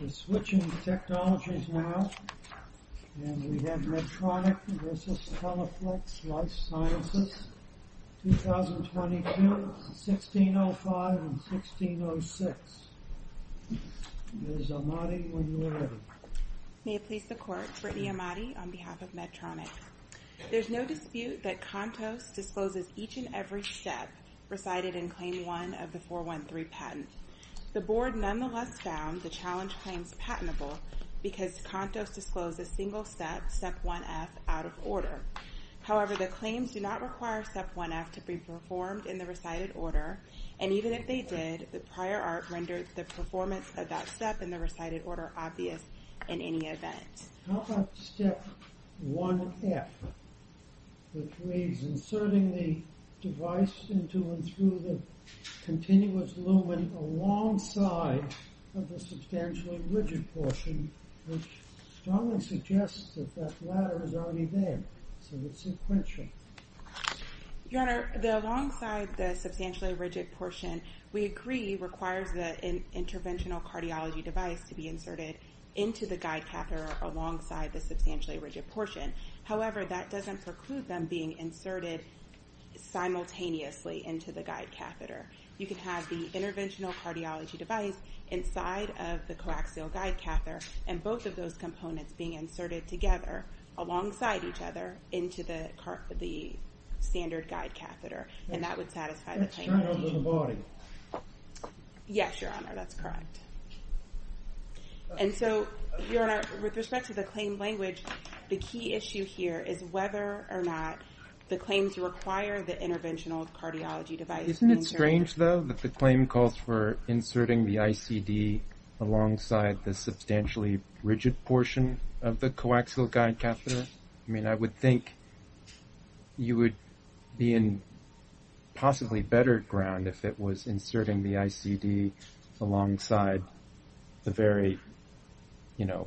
We're switching technologies now, and we have Medtronic v. Teleflex Life Sciences, 2022, 1605, and 1606. Ms. Ahmadi, when you're ready. May it please the Court, Brittany Ahmadi on behalf of Medtronic. There's no dispute that Comptos disposes each and every step presided in Claim 1 of the 413 patent. The Board nonetheless found the challenge claims patentable because Comptos disclosed a single step, Step 1F, out of order. However, the claims do not require Step 1F to be performed in the recited order, and even if they did, the prior art rendered the performance of that step in the recited order obvious in any event. How about Step 1F, which means inserting the device into and through the continuous lumen alongside of the substantially rigid portion, which strongly suggests that that ladder is already there, so it's sequential. Your Honor, the alongside the substantially rigid portion, we agree, requires the interventional cardiology device to be inserted into the guide catheter alongside the substantially rigid portion. However, that doesn't preclude them being inserted simultaneously into the guide catheter. You can have the interventional cardiology device inside of the coaxial guide catheter, and both of those components being inserted together alongside each other into the standard guide catheter, and that would satisfy the claim. That's turning over the body. Yes, Your Honor, that's correct. And so, Your Honor, with respect to the claim language, the key issue here is whether or not the claims require the interventional cardiology device being inserted. Isn't it strange, though, that the claim calls for inserting the ICD alongside the substantially rigid portion of the coaxial guide catheter? I mean, I would think you would be in possibly better ground if it was inserting the ICD alongside the very, you know,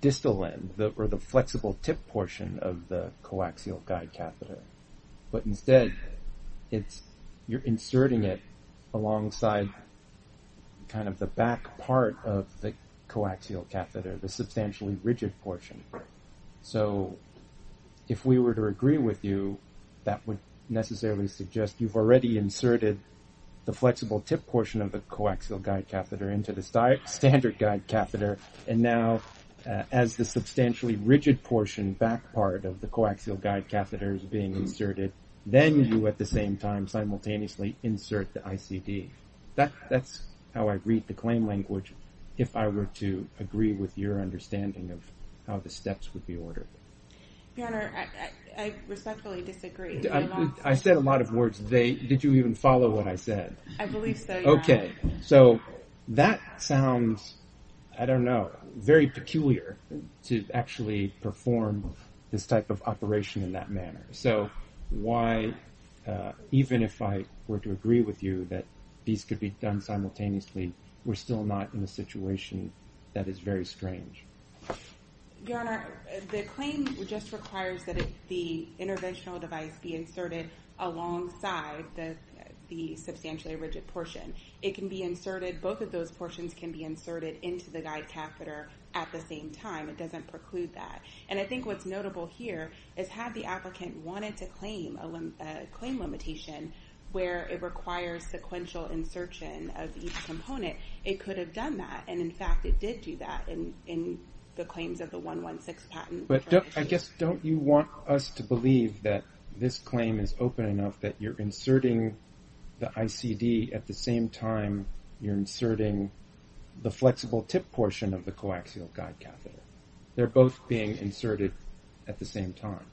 distal end or the flexible tip portion of the coaxial guide catheter. But instead, you're inserting it alongside kind of the back part of the coaxial catheter, the substantially rigid portion. So if we were to agree with you, that would necessarily suggest you've already inserted the flexible tip portion of the coaxial guide catheter into the standard guide catheter, and now as the substantially rigid portion back part of the coaxial guide catheter is being inserted, then you at the same time simultaneously insert the ICD. That's how I read the claim language if I were to agree with your understanding of how the steps would be ordered. Your Honor, I respectfully disagree. I said a lot of words. Did you even follow what I said? I believe so, Your Honor. Okay. So that sounds, I don't know, very peculiar to actually perform this type of operation in that manner. So why, even if I were to agree with you that these could be done simultaneously, we're still not in a situation that is very strange? Your Honor, the claim just requires that the interventional device be inserted alongside the substantially rigid portion. It can be inserted, both of those portions can be inserted into the guide catheter at the same time. It doesn't preclude that, and I think what's notable here is had the applicant wanted to claim a claim limitation where it requires sequential insertion of each component, it could have done that, and in fact, it did do that in the claims of the 116 patent. But I guess don't you want us to believe that this claim is open enough that you're inserting the ICD at the same time you're inserting the flexible tip portion of the coaxial guide catheter? They're both being inserted at the same time.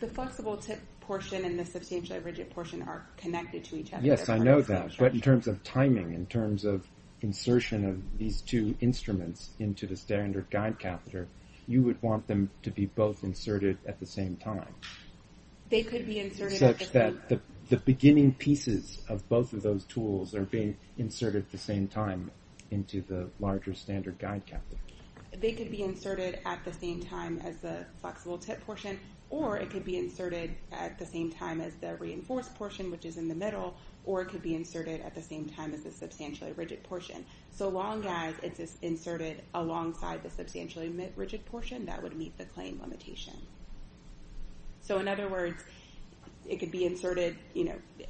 The flexible tip portion and the substantially rigid portion are connected to each other. Yes, I know that, but in terms of timing, in terms of insertion of these two instruments into the standard guide catheter, you would want them to be both inserted at the same time. They could be inserted at the same time. The beginning pieces of both of those tools are being inserted at the same time into the larger standard guide catheter. They could be inserted at the same time as the flexible tip portion, or it could be inserted at the same time as the reinforced portion, which is in the middle, or it could be inserted at the same time as the substantially rigid portion. So long as it's inserted alongside the substantially rigid portion, that would meet the claim limitation. So in other words, it could be inserted,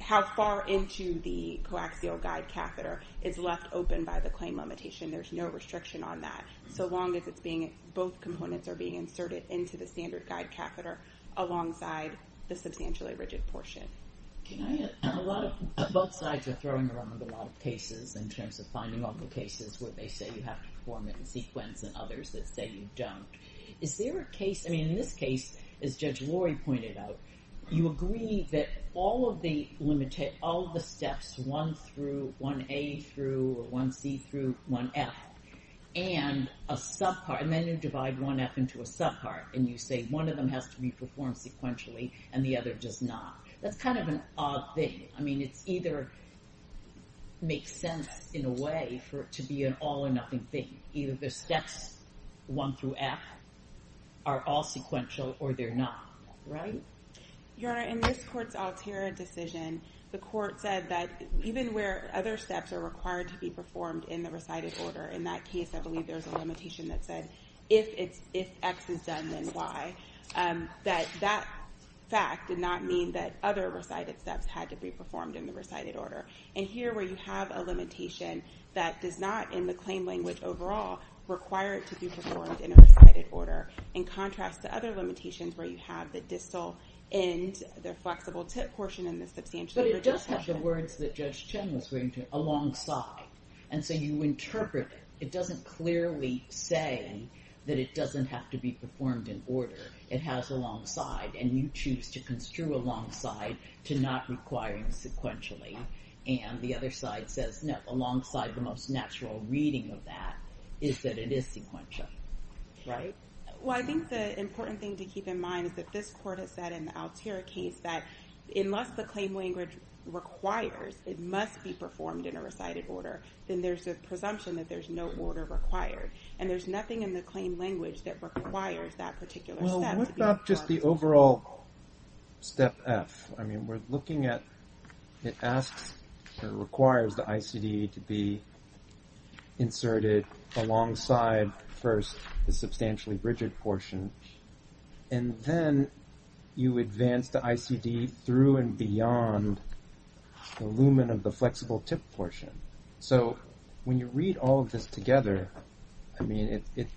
how far into the coaxial guide catheter is left open by the claim limitation. There's no restriction on that. So long as it's being, both components are being inserted into the standard guide catheter alongside the substantially rigid portion. Can I add, both sides are throwing around a lot of cases in terms of finding all the cases where they say you have to perform it in sequence and others that say you don't. Is there a case, I mean, in this case, as Judge Lori pointed out, you agree that all of the steps, one through, one A through, or one C through, one F, and a subpart, and then you divide one F into a subpart, and you say one of them has to be performed sequentially, and the other does not. That's kind of an odd thing. I mean, it's either makes sense in a way for it to be an all or nothing thing. Either the steps, one through F, are all sequential or they're not, right? Your Honor, in this court's altera decision, the court said that even where other steps are required to be performed in the recited order, in that case, I believe there's a limitation that said if X is done, then Y, that that fact did not mean that other recited steps had to be performed in the recited order. And here, where you have a limitation that does not, in the claim language overall, require it to be performed in a recited order, in contrast to other limitations where you have the distal end, the flexible tip portion, and the substantial. But it does have the words that Judge Chen was referring to, alongside. And so you interpret it. It doesn't clearly say that it doesn't have to be performed in order. It has alongside, and you choose to construe alongside to not requiring sequentially. And the other side says, no, alongside the most natural reading of that is that it is sequential, right? Well, I think the important thing to keep in mind is that this court has said in the altera case that unless the claim language requires it must be performed in a recited order, then there's a presumption that there's no order required. And there's nothing in the claim language that requires that particular step to be performed. Well, what about just the overall step F? I mean, we're looking at, it asks or requires the ICD to be inserted alongside first the substantially rigid portion. And then you advance the ICD through and beyond the lumen of the flexible tip portion. So when you read all of this together, I mean, it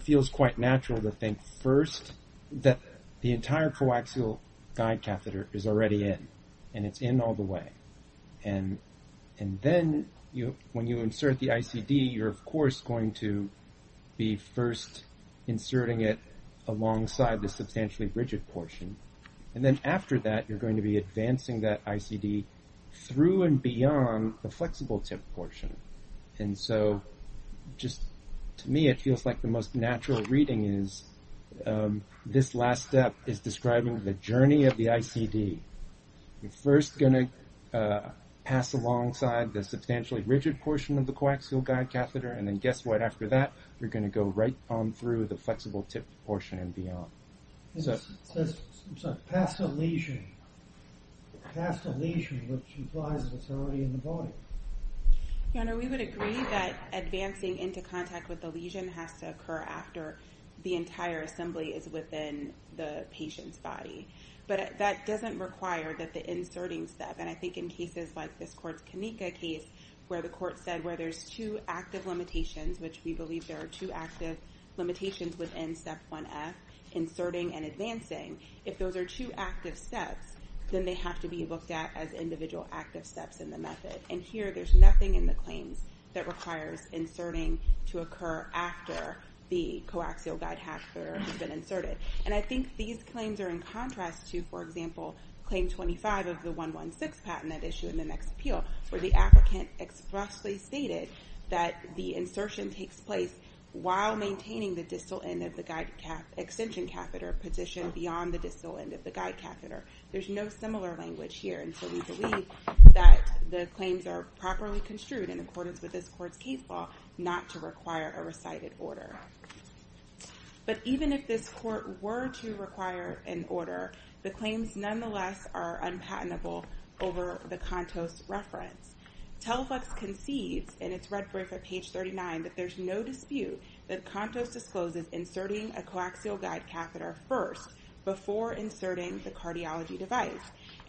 feels quite natural to think first that the entire coaxial guide catheter is already in, and it's in all the way. And then when you insert the ICD, you're of course going to be first inserting it alongside the substantially rigid portion. And then after that, you're going to be advancing that ICD through and beyond the flexible tip portion. And so just to me, it feels like the most natural reading is this last step is describing the journey of the ICD. You're first going to pass alongside the substantially rigid portion of the coaxial guide catheter. And then guess what? After that, you're going to go right on through the flexible tip portion and beyond. Pass the lesion, pass the lesion, which implies the fatality in the body. We would agree that advancing into contact with the lesion has to occur after the entire assembly is within the patient's body. But that doesn't require that the inserting step, and I think in cases like this court's Kanika case, where the court said where there's two active limitations, which we believe there are two active limitations within step 1F, inserting and advancing, if those are two active steps, then they have to be looked at as individual active steps in the method. And here, there's nothing in the claims that requires inserting to occur after the coaxial guide catheter has been inserted. And I think these claims are in contrast to, for example, claim 25 of the 116 patent that issued in the next appeal, where the applicant expressly stated that the insertion takes place while maintaining the distal end of the guide extension catheter positioned beyond the distal end of the guide catheter. There's no similar language here, and so we believe that the claims are properly construed in accordance with this court's case law not to require a recited order. But even if this court were to require an order, the claims nonetheless are unpatentable over the Contos reference. Teleflux concedes in its red brief at page 39 that there's no dispute that Contos discloses inserting a coaxial guide catheter first before inserting the cardiology device.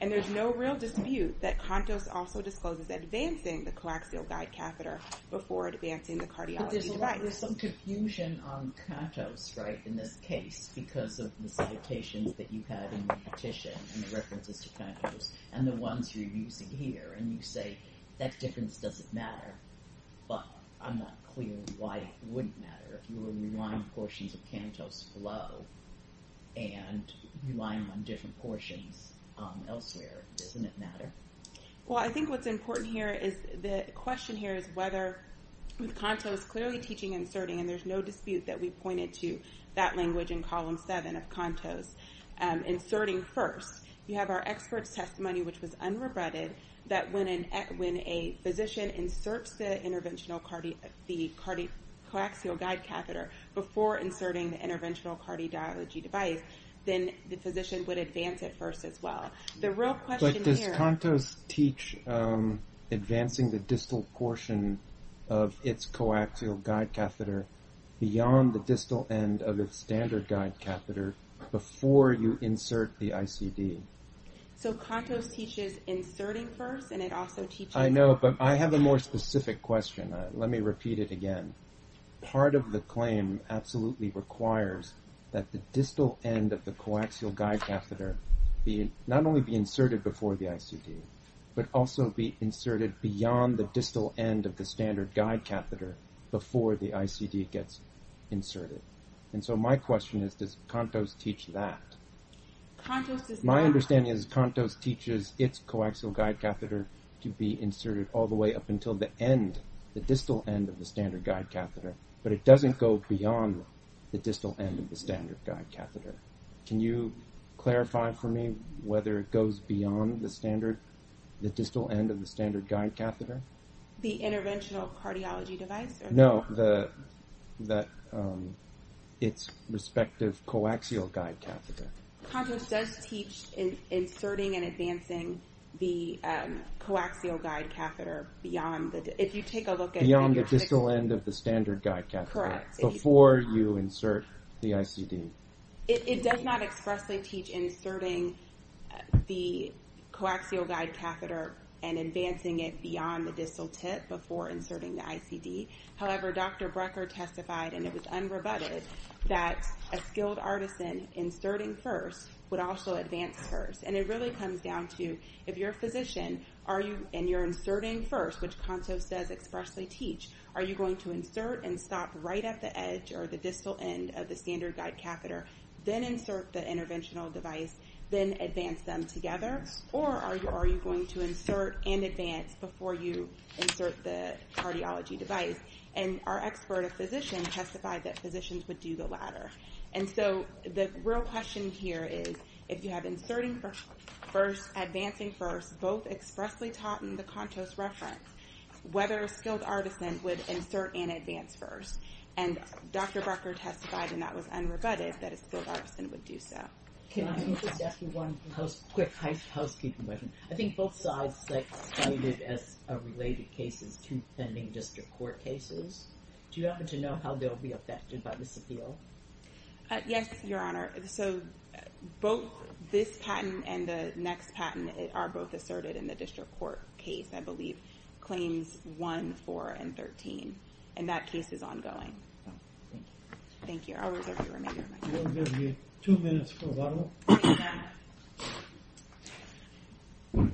And there's no real dispute that Contos also discloses advancing the coaxial guide catheter before advancing the cardiology device. But there's some confusion on Contos, right, in this case, because of the citations that you have in the petition and the references to Contos, and the ones you're using here, and you say that difference doesn't matter, but I'm not clear why it wouldn't matter if you were relying on portions of Contos flow and relying on different portions elsewhere. Doesn't it matter? Well, I think what's important here is, the question here is whether, with Contos clearly teaching inserting, and there's no dispute that we pointed to that language in column seven of Contos, inserting first, we have our expert's testimony, which was unrebutted, that when a physician inserts the coaxial guide catheter before inserting the interventional cardiology device, then the physician would advance it first as well. The real question here- But does Contos teach advancing the distal portion of its coaxial guide catheter beyond the distal end of its standard guide catheter before you insert the ICD? So Contos teaches inserting first, and it also teaches- I know, but I have a more specific question. Let me repeat it again. Part of the claim absolutely requires that the distal end of the coaxial guide catheter not only be inserted before the ICD, but also be inserted beyond the distal end of the standard guide catheter before the ICD gets inserted. And so my question is, does Contos teach that? Contos does not- My understanding is Contos teaches its coaxial guide catheter to be inserted all the way up until the end, the distal end of the standard guide catheter, but it doesn't go beyond the distal end of the standard guide catheter. Can you clarify for me whether it goes beyond the distal end of the standard guide catheter? The interventional cardiology device? No, its respective coaxial guide catheter. Contos does teach inserting and advancing the coaxial guide catheter beyond the- If you take a look at- Beyond the distal end of the standard guide catheter. Correct. Before you insert the ICD. It does not expressly teach inserting the coaxial guide catheter and advancing it beyond the distal tip before inserting the ICD. However, Dr. Brecker testified, and it was unrebutted, that a skilled artisan inserting first would also advance first. And it really comes down to, if you're a physician, and you're inserting first, which Contos does expressly teach, are you going to insert and stop right at the edge or the distal end of the standard guide catheter, then insert the interventional device, then advance them together? Or are you going to insert and advance before you insert the cardiology device? And our expert, a physician, testified that physicians would do the latter. And so the real question here is, if you have inserting first, advancing first, both expressly taught in the Contos reference, whether a skilled artisan would insert and advance first? And Dr. Brecker testified, and that was unrebutted, that a skilled artisan would do so. Can I just ask you one quick housekeeping question? I think both sides cited as related cases two pending district court cases. Do you happen to know how they'll be affected by this appeal? Yes, Your Honor. So both this patent and the next patent are both asserted in the district court case, I believe, claims one, four, and 13. And that case is ongoing. Thank you. I'll reserve the remainder of my time. We'll give you two minutes for a vote. Thank you, Your Honor.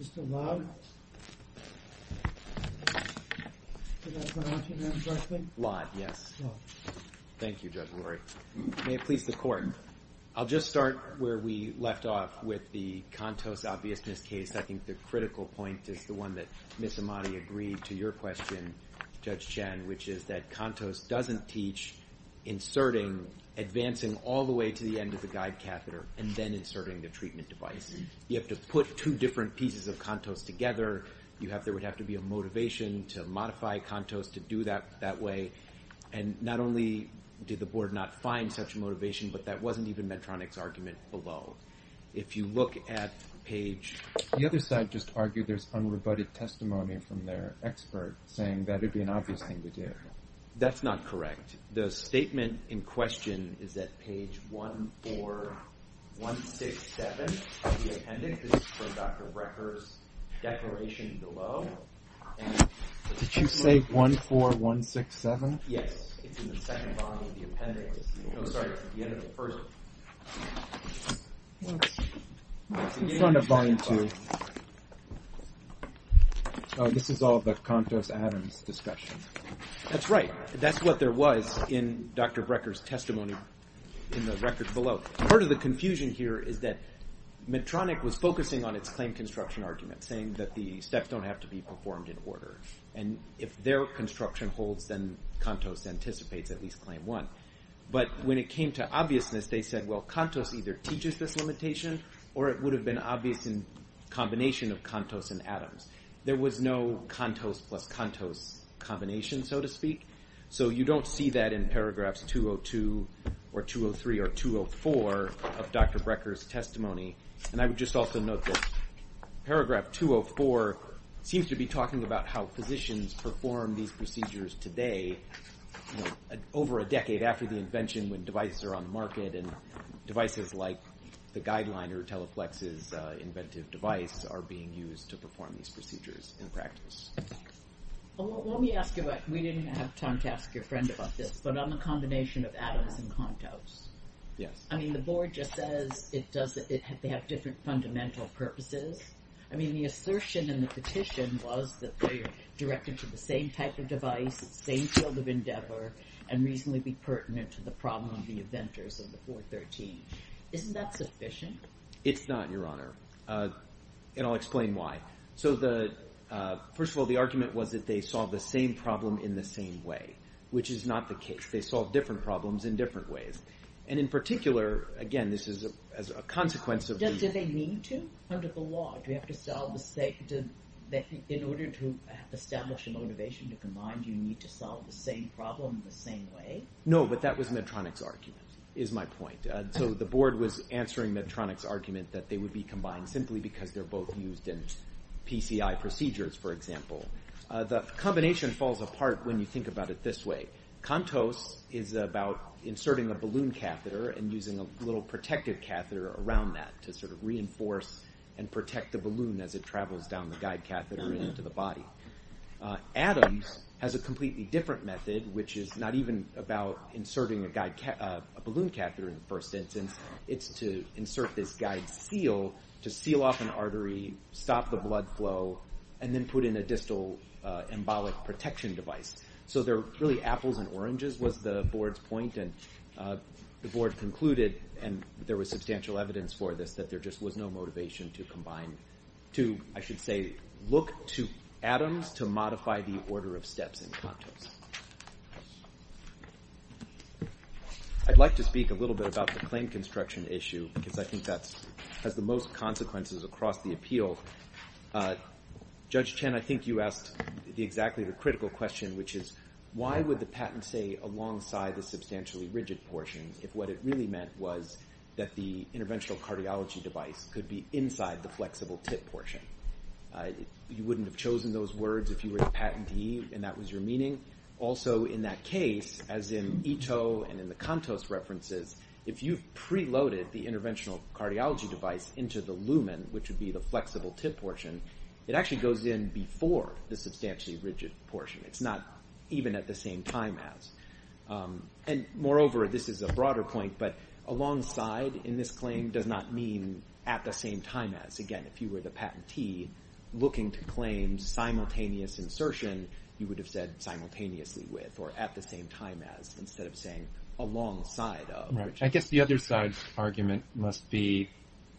Mr. Lott? Can I come up to you, Your Honor, directly? Lott, yes. Thank you, Judge Lurie. May it please the court. I'll just start where we left off with the Contos obviousness case. I think the critical point is the one that Ms. Amati agreed to your question, Judge Chen, which is that Contos doesn't teach inserting, advancing all the way to the end of the guide catheter, and then inserting the treatment device. You have to put two different pieces of Contos together. You have, there would have to be a motivation to modify Contos to do that that way. And not only did the board not find such motivation, but that wasn't even Medtronic's argument below. If you look at page... The other side just argued there's unrebutted testimony from their expert saying that it'd be an obvious thing to do. That's not correct. The statement in question is at page 14167 of the appendix. This is for Dr. Brecker's declaration below. Did you say 14167? Yes, it's in the second volume of the appendix. No, sorry, at the end of the first one. It's on the volume two. This is all the Contos-Adams discussion. That's right, that's what there was in Dr. Brecker's testimony in the records below. Part of the confusion here is that Medtronic was focusing on its claim construction argument, saying that the steps don't have to be performed in order. And if their construction holds, then Contos anticipates at least claim one. But when it came to obviousness, they said, well, Contos either teaches this limitation or it would have been obvious in combination of Contos and Adams. There was no Contos plus Contos combination, so to speak. So you don't see that in paragraphs 202 or 203 or 204 of Dr. Brecker's testimony. And I would just also note that paragraph 204 seems to be talking about how physicians perform these procedures today, over a decade after the invention when devices are on the market. And devices like the Guideline or Teleflex's inventive device are being used to perform these procedures in practice. Well, let me ask you about, we didn't have time to ask your friend about this, but on the combination of Adams and Contos. Yes. I mean, the board just says it does, they have different fundamental purposes. I mean, the assertion in the petition was that they are directed to the same type of device, same field of endeavor, and reasonably be pertinent to the problem of the inventors of the 413. Isn't that sufficient? It's not, Your Honor. And I'll explain why. So the, first of all, the argument was that they solve the same problem in the same way, which is not the case. They solve different problems in different ways. And in particular, again, this is as a consequence of the- Do they need to, under the law? Do you have to solve the same, in order to establish a motivation to combine, do you need to solve the same problem in the same way? No, but that was Medtronic's argument, is my point. So the board was answering Medtronic's argument that they would be combined simply because they're both used in PCI procedures, for example. The combination falls apart when you think about it this way. Contos is about inserting a balloon catheter and using a little protective catheter around that to sort of reinforce and protect the balloon as it travels down the guide catheter and into the body. Adams has a completely different method, which is not even about inserting a balloon catheter in the first instance. It's to insert this guide seal to seal off an artery, stop the blood flow, and then put in a distal embolic protection device. So they're really apples and oranges was the board's point. And the board concluded, and there was substantial evidence for this, that there just was no motivation to combine, to, I should say, look to Adams to modify the order of steps in Contos. I'd like to speak a little bit about the claim construction issue, because I think that has the most consequences across the appeal. Judge Chen, I think you asked exactly the critical question, which is why would the patent say alongside the substantially rigid portion if what it really meant was that the interventional cardiology device could be inside the flexible tip portion? You wouldn't have chosen those words if you were the patentee and that was your meaning. Also in that case, as in Ito and in the Contos references, if you preloaded the interventional cardiology device into the lumen, which would be the flexible tip portion, it actually goes in before the substantially rigid portion. It's not even at the same time as. And moreover, this is a broader point, but alongside in this claim does not mean at the same time as. Again, if you were the patentee looking to claim simultaneous insertion, you would have said simultaneously with or at the same time as instead of saying alongside of. I guess the other side argument must be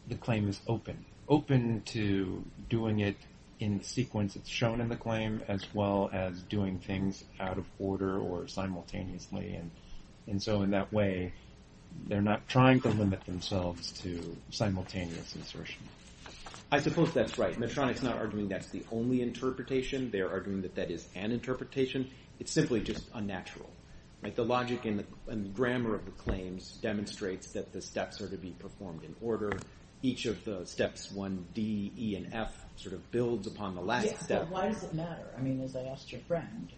the claim is open, open to doing it in the sequence that's shown in the claim as well as doing things out of order or simultaneously. And so in that way, they're not trying to limit themselves to simultaneous insertion. I suppose that's right. Medtronic's not arguing that's the only interpretation. They're arguing that that is an interpretation. It's simply just unnatural. Like the logic and the grammar of the claims demonstrates that the steps are to be performed in order. Each of the steps one, D, E, and F sort of builds upon the last step. Why does it matter? I mean, as I asked your friend,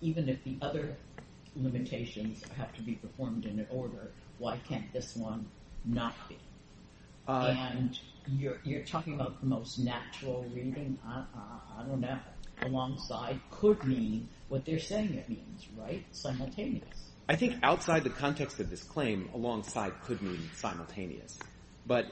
even if the other limitations have to be performed in an order, why can't this one not be? And you're talking about the most natural reading. I don't know. Alongside could mean what they're saying it means, right, simultaneous? I think outside the context of this claim, alongside could mean simultaneous. But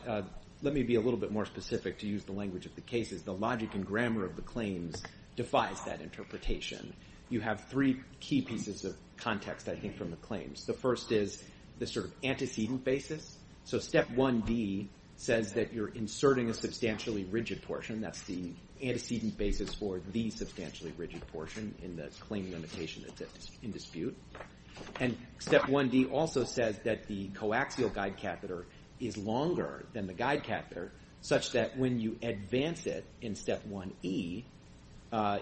let me be a little bit more specific to use the language of the cases. The logic and grammar of the claims defies that interpretation. You have three key pieces of context, I think, from the claims. The first is the sort of antecedent basis. So step one, D, says that you're inserting a substantially rigid portion. That's the antecedent basis for the substantially rigid portion in the claim limitation that's in dispute. And step one, D, also says that the coaxial guide catheter is longer than the guide catheter, such that when you advance it in step one, E,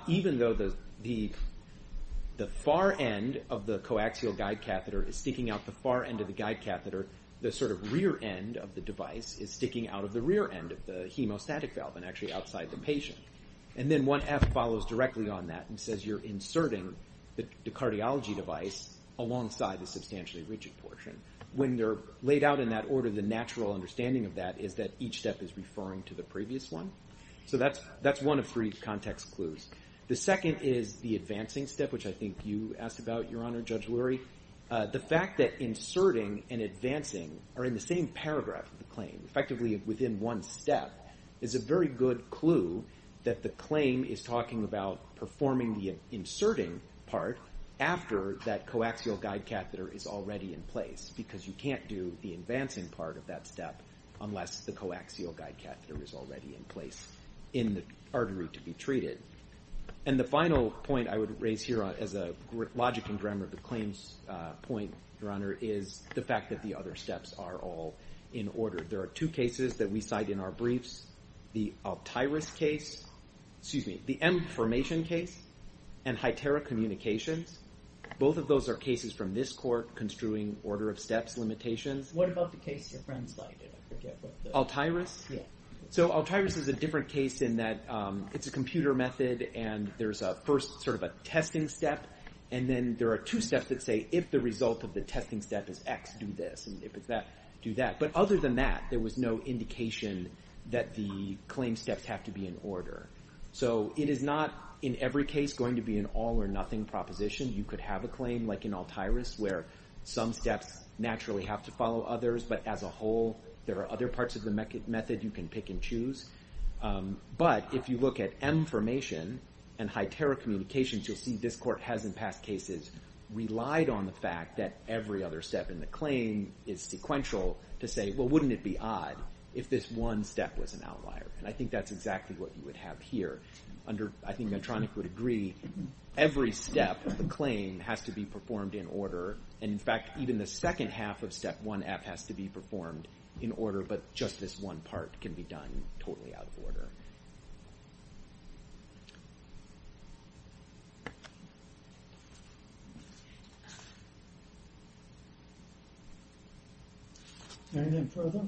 even though the far end of the coaxial guide catheter is sticking out the far end of the guide catheter, the sort of rear end of the device is sticking out of the rear end of the hemostatic valve and actually outside the patient. And then one, F, follows directly on that and says you're inserting the cardiology device alongside the substantially rigid portion. When they're laid out in that order, the natural understanding of that is that each step is referring to the previous one. So that's one of three context clues. The second is the advancing step, which I think you asked about, Your Honor, Judge Lurie. The fact that inserting and advancing are in the same paragraph of the claim, effectively within one step, is a very good clue that the claim is talking about performing the inserting part after that coaxial guide catheter is already in place, because you can't do the advancing part of that step unless the coaxial guide catheter is already in place in the artery to be treated. And the final point I would raise here as a logic and grammar of the claims point, Your Honor, is the fact that the other steps are all in order. There are two cases that we cite in our briefs, the Altyris case, excuse me, the M formation case and Hytera communications. Both of those are cases from this court construing order of steps limitations. What about the case your friends cited? Altyris? So Altyris is a different case in that it's a computer method and there's a first sort of a testing step, and then there are two steps that say if the result of the testing step is X, do this, and if it's that, do that. But other than that, there was no indication that the claim steps have to be in order. So it is not, in every case, going to be an all or nothing proposition. You could have a claim like in Altyris where some steps naturally have to follow others, but as a whole, there are other parts of the method you can pick and choose. But if you look at M formation and Hytera communications, you'll see this court has in past cases relied on the fact that every other step in the claim is sequential to say, well, wouldn't it be odd if this one step was an outlier? And I think that's exactly what you would have here. I think Medtronic would agree, every step of the claim has to be performed in order, and in fact, even the second half of step one has to be performed in order, but just this one part can be done totally out of order. Anything further?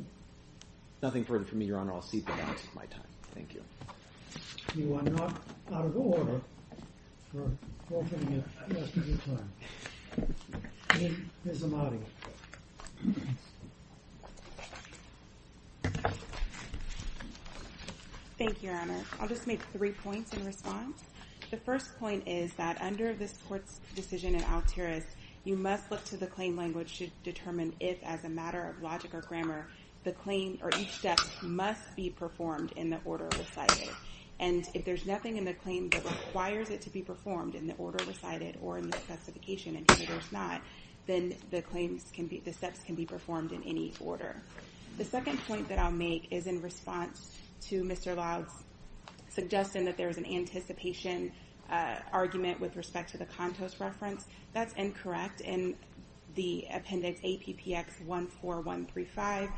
Nothing further from me, Your Honor. I'll cede the rest of my time. Thank you. You are not out of order for offering the rest of your time. Ms. Amadi. Thank you, Your Honor. I'll just make three points in response. The first point is that under this court's decision in Altyris, you must look to the claim language to determine if as a matter of logic or grammar, the claim or each step must be performed in the order recited. And if there's nothing in the claim that requires it to be performed in the order recited or in the specification and if there's not, then the steps can be performed in any order. The second point that I'll make is in response to Mr. Loud's suggestion that there's an anticipation argument with respect to the Contos reference. That's incorrect. In the appendix APPX 14135,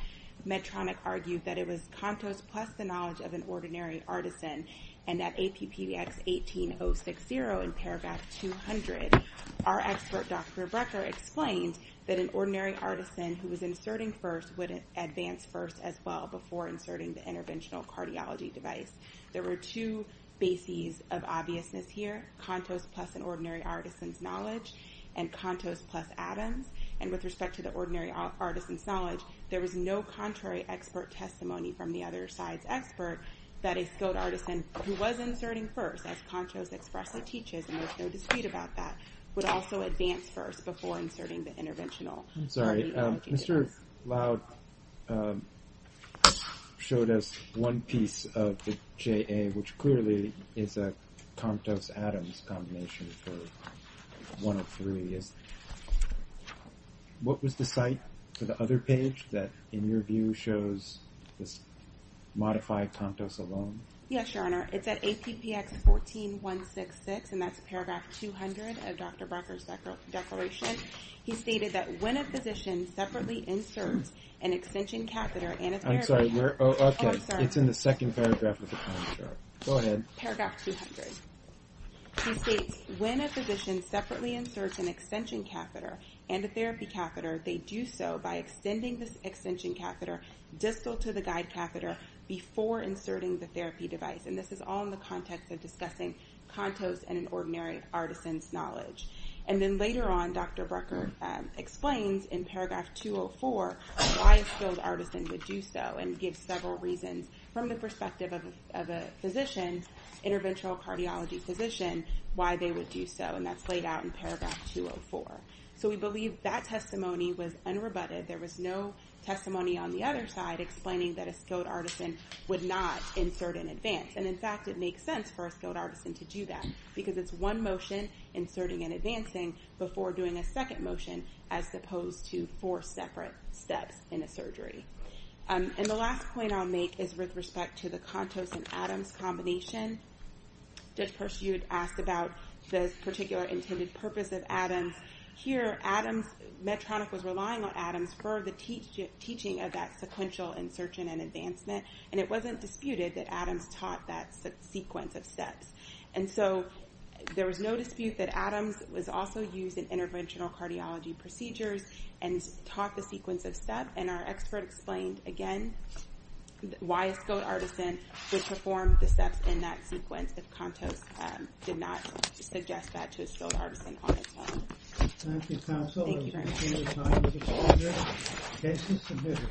Medtronic argued that it was Contos plus the knowledge of an ordinary artisan and that APPX 18060 in paragraph 200, our expert Dr. Brecker explained that an ordinary artisan who was inserting first would advance first as well before inserting the interventional cardiology device. There were two bases of obviousness here, Contos plus an ordinary artisan's knowledge and Contos plus Adams. And with respect to the ordinary artisan's knowledge, there was no contrary expert testimony from the other side's expert that a skilled artisan who was inserting first as Contos expressly teaches and there's no dispute about that, would also advance first before inserting the interventional cardiology device. Mr. Loud showed us one piece of the JA which clearly is a Contos Adams combination for 103. What was the site for the other page that in your view shows this modified Contos alone? Yes, Your Honor. It's at APPX 14166 and that's paragraph 200 of Dr. Brecker's declaration. He stated that when a physician separately inserts an extension catheter and a therapy catheter. I'm sorry, where, oh, okay. It's in the second paragraph of the contract. Go ahead. Paragraph 200. He states when a physician separately inserts an extension catheter and a therapy catheter, they do so by extending this extension catheter distal to the guide catheter before inserting the therapy device. And this is all in the context of discussing Contos and an ordinary artisan's knowledge. And then later on, Dr. Brecker explains in paragraph 204 why a skilled artisan would do so and gives several reasons from the perspective of a physician, interventional cardiology physician, why they would do so. And that's laid out in paragraph 204. So we believe that testimony was unrebutted. There was no testimony on the other side explaining that a skilled artisan would not insert in advance. And in fact, it makes sense for a skilled artisan to do that because it's one motion, inserting and advancing, before doing a second motion as opposed to four separate steps in a surgery. And the last point I'll make is with respect to the Contos and Adams combination. Judge Pursuit asked about the particular intended purpose of Adams. Here, Medtronic was relying on Adams for the teaching of that sequential insertion and advancement. And it wasn't disputed that Adams taught that sequence of steps. And so there was no dispute that Adams was also using interventional cardiology procedures and taught the sequence of steps. And our expert explained, again, why a skilled artisan would perform the steps in that sequence if Contos did not suggest that to a skilled artisan on its own. Thank you very much.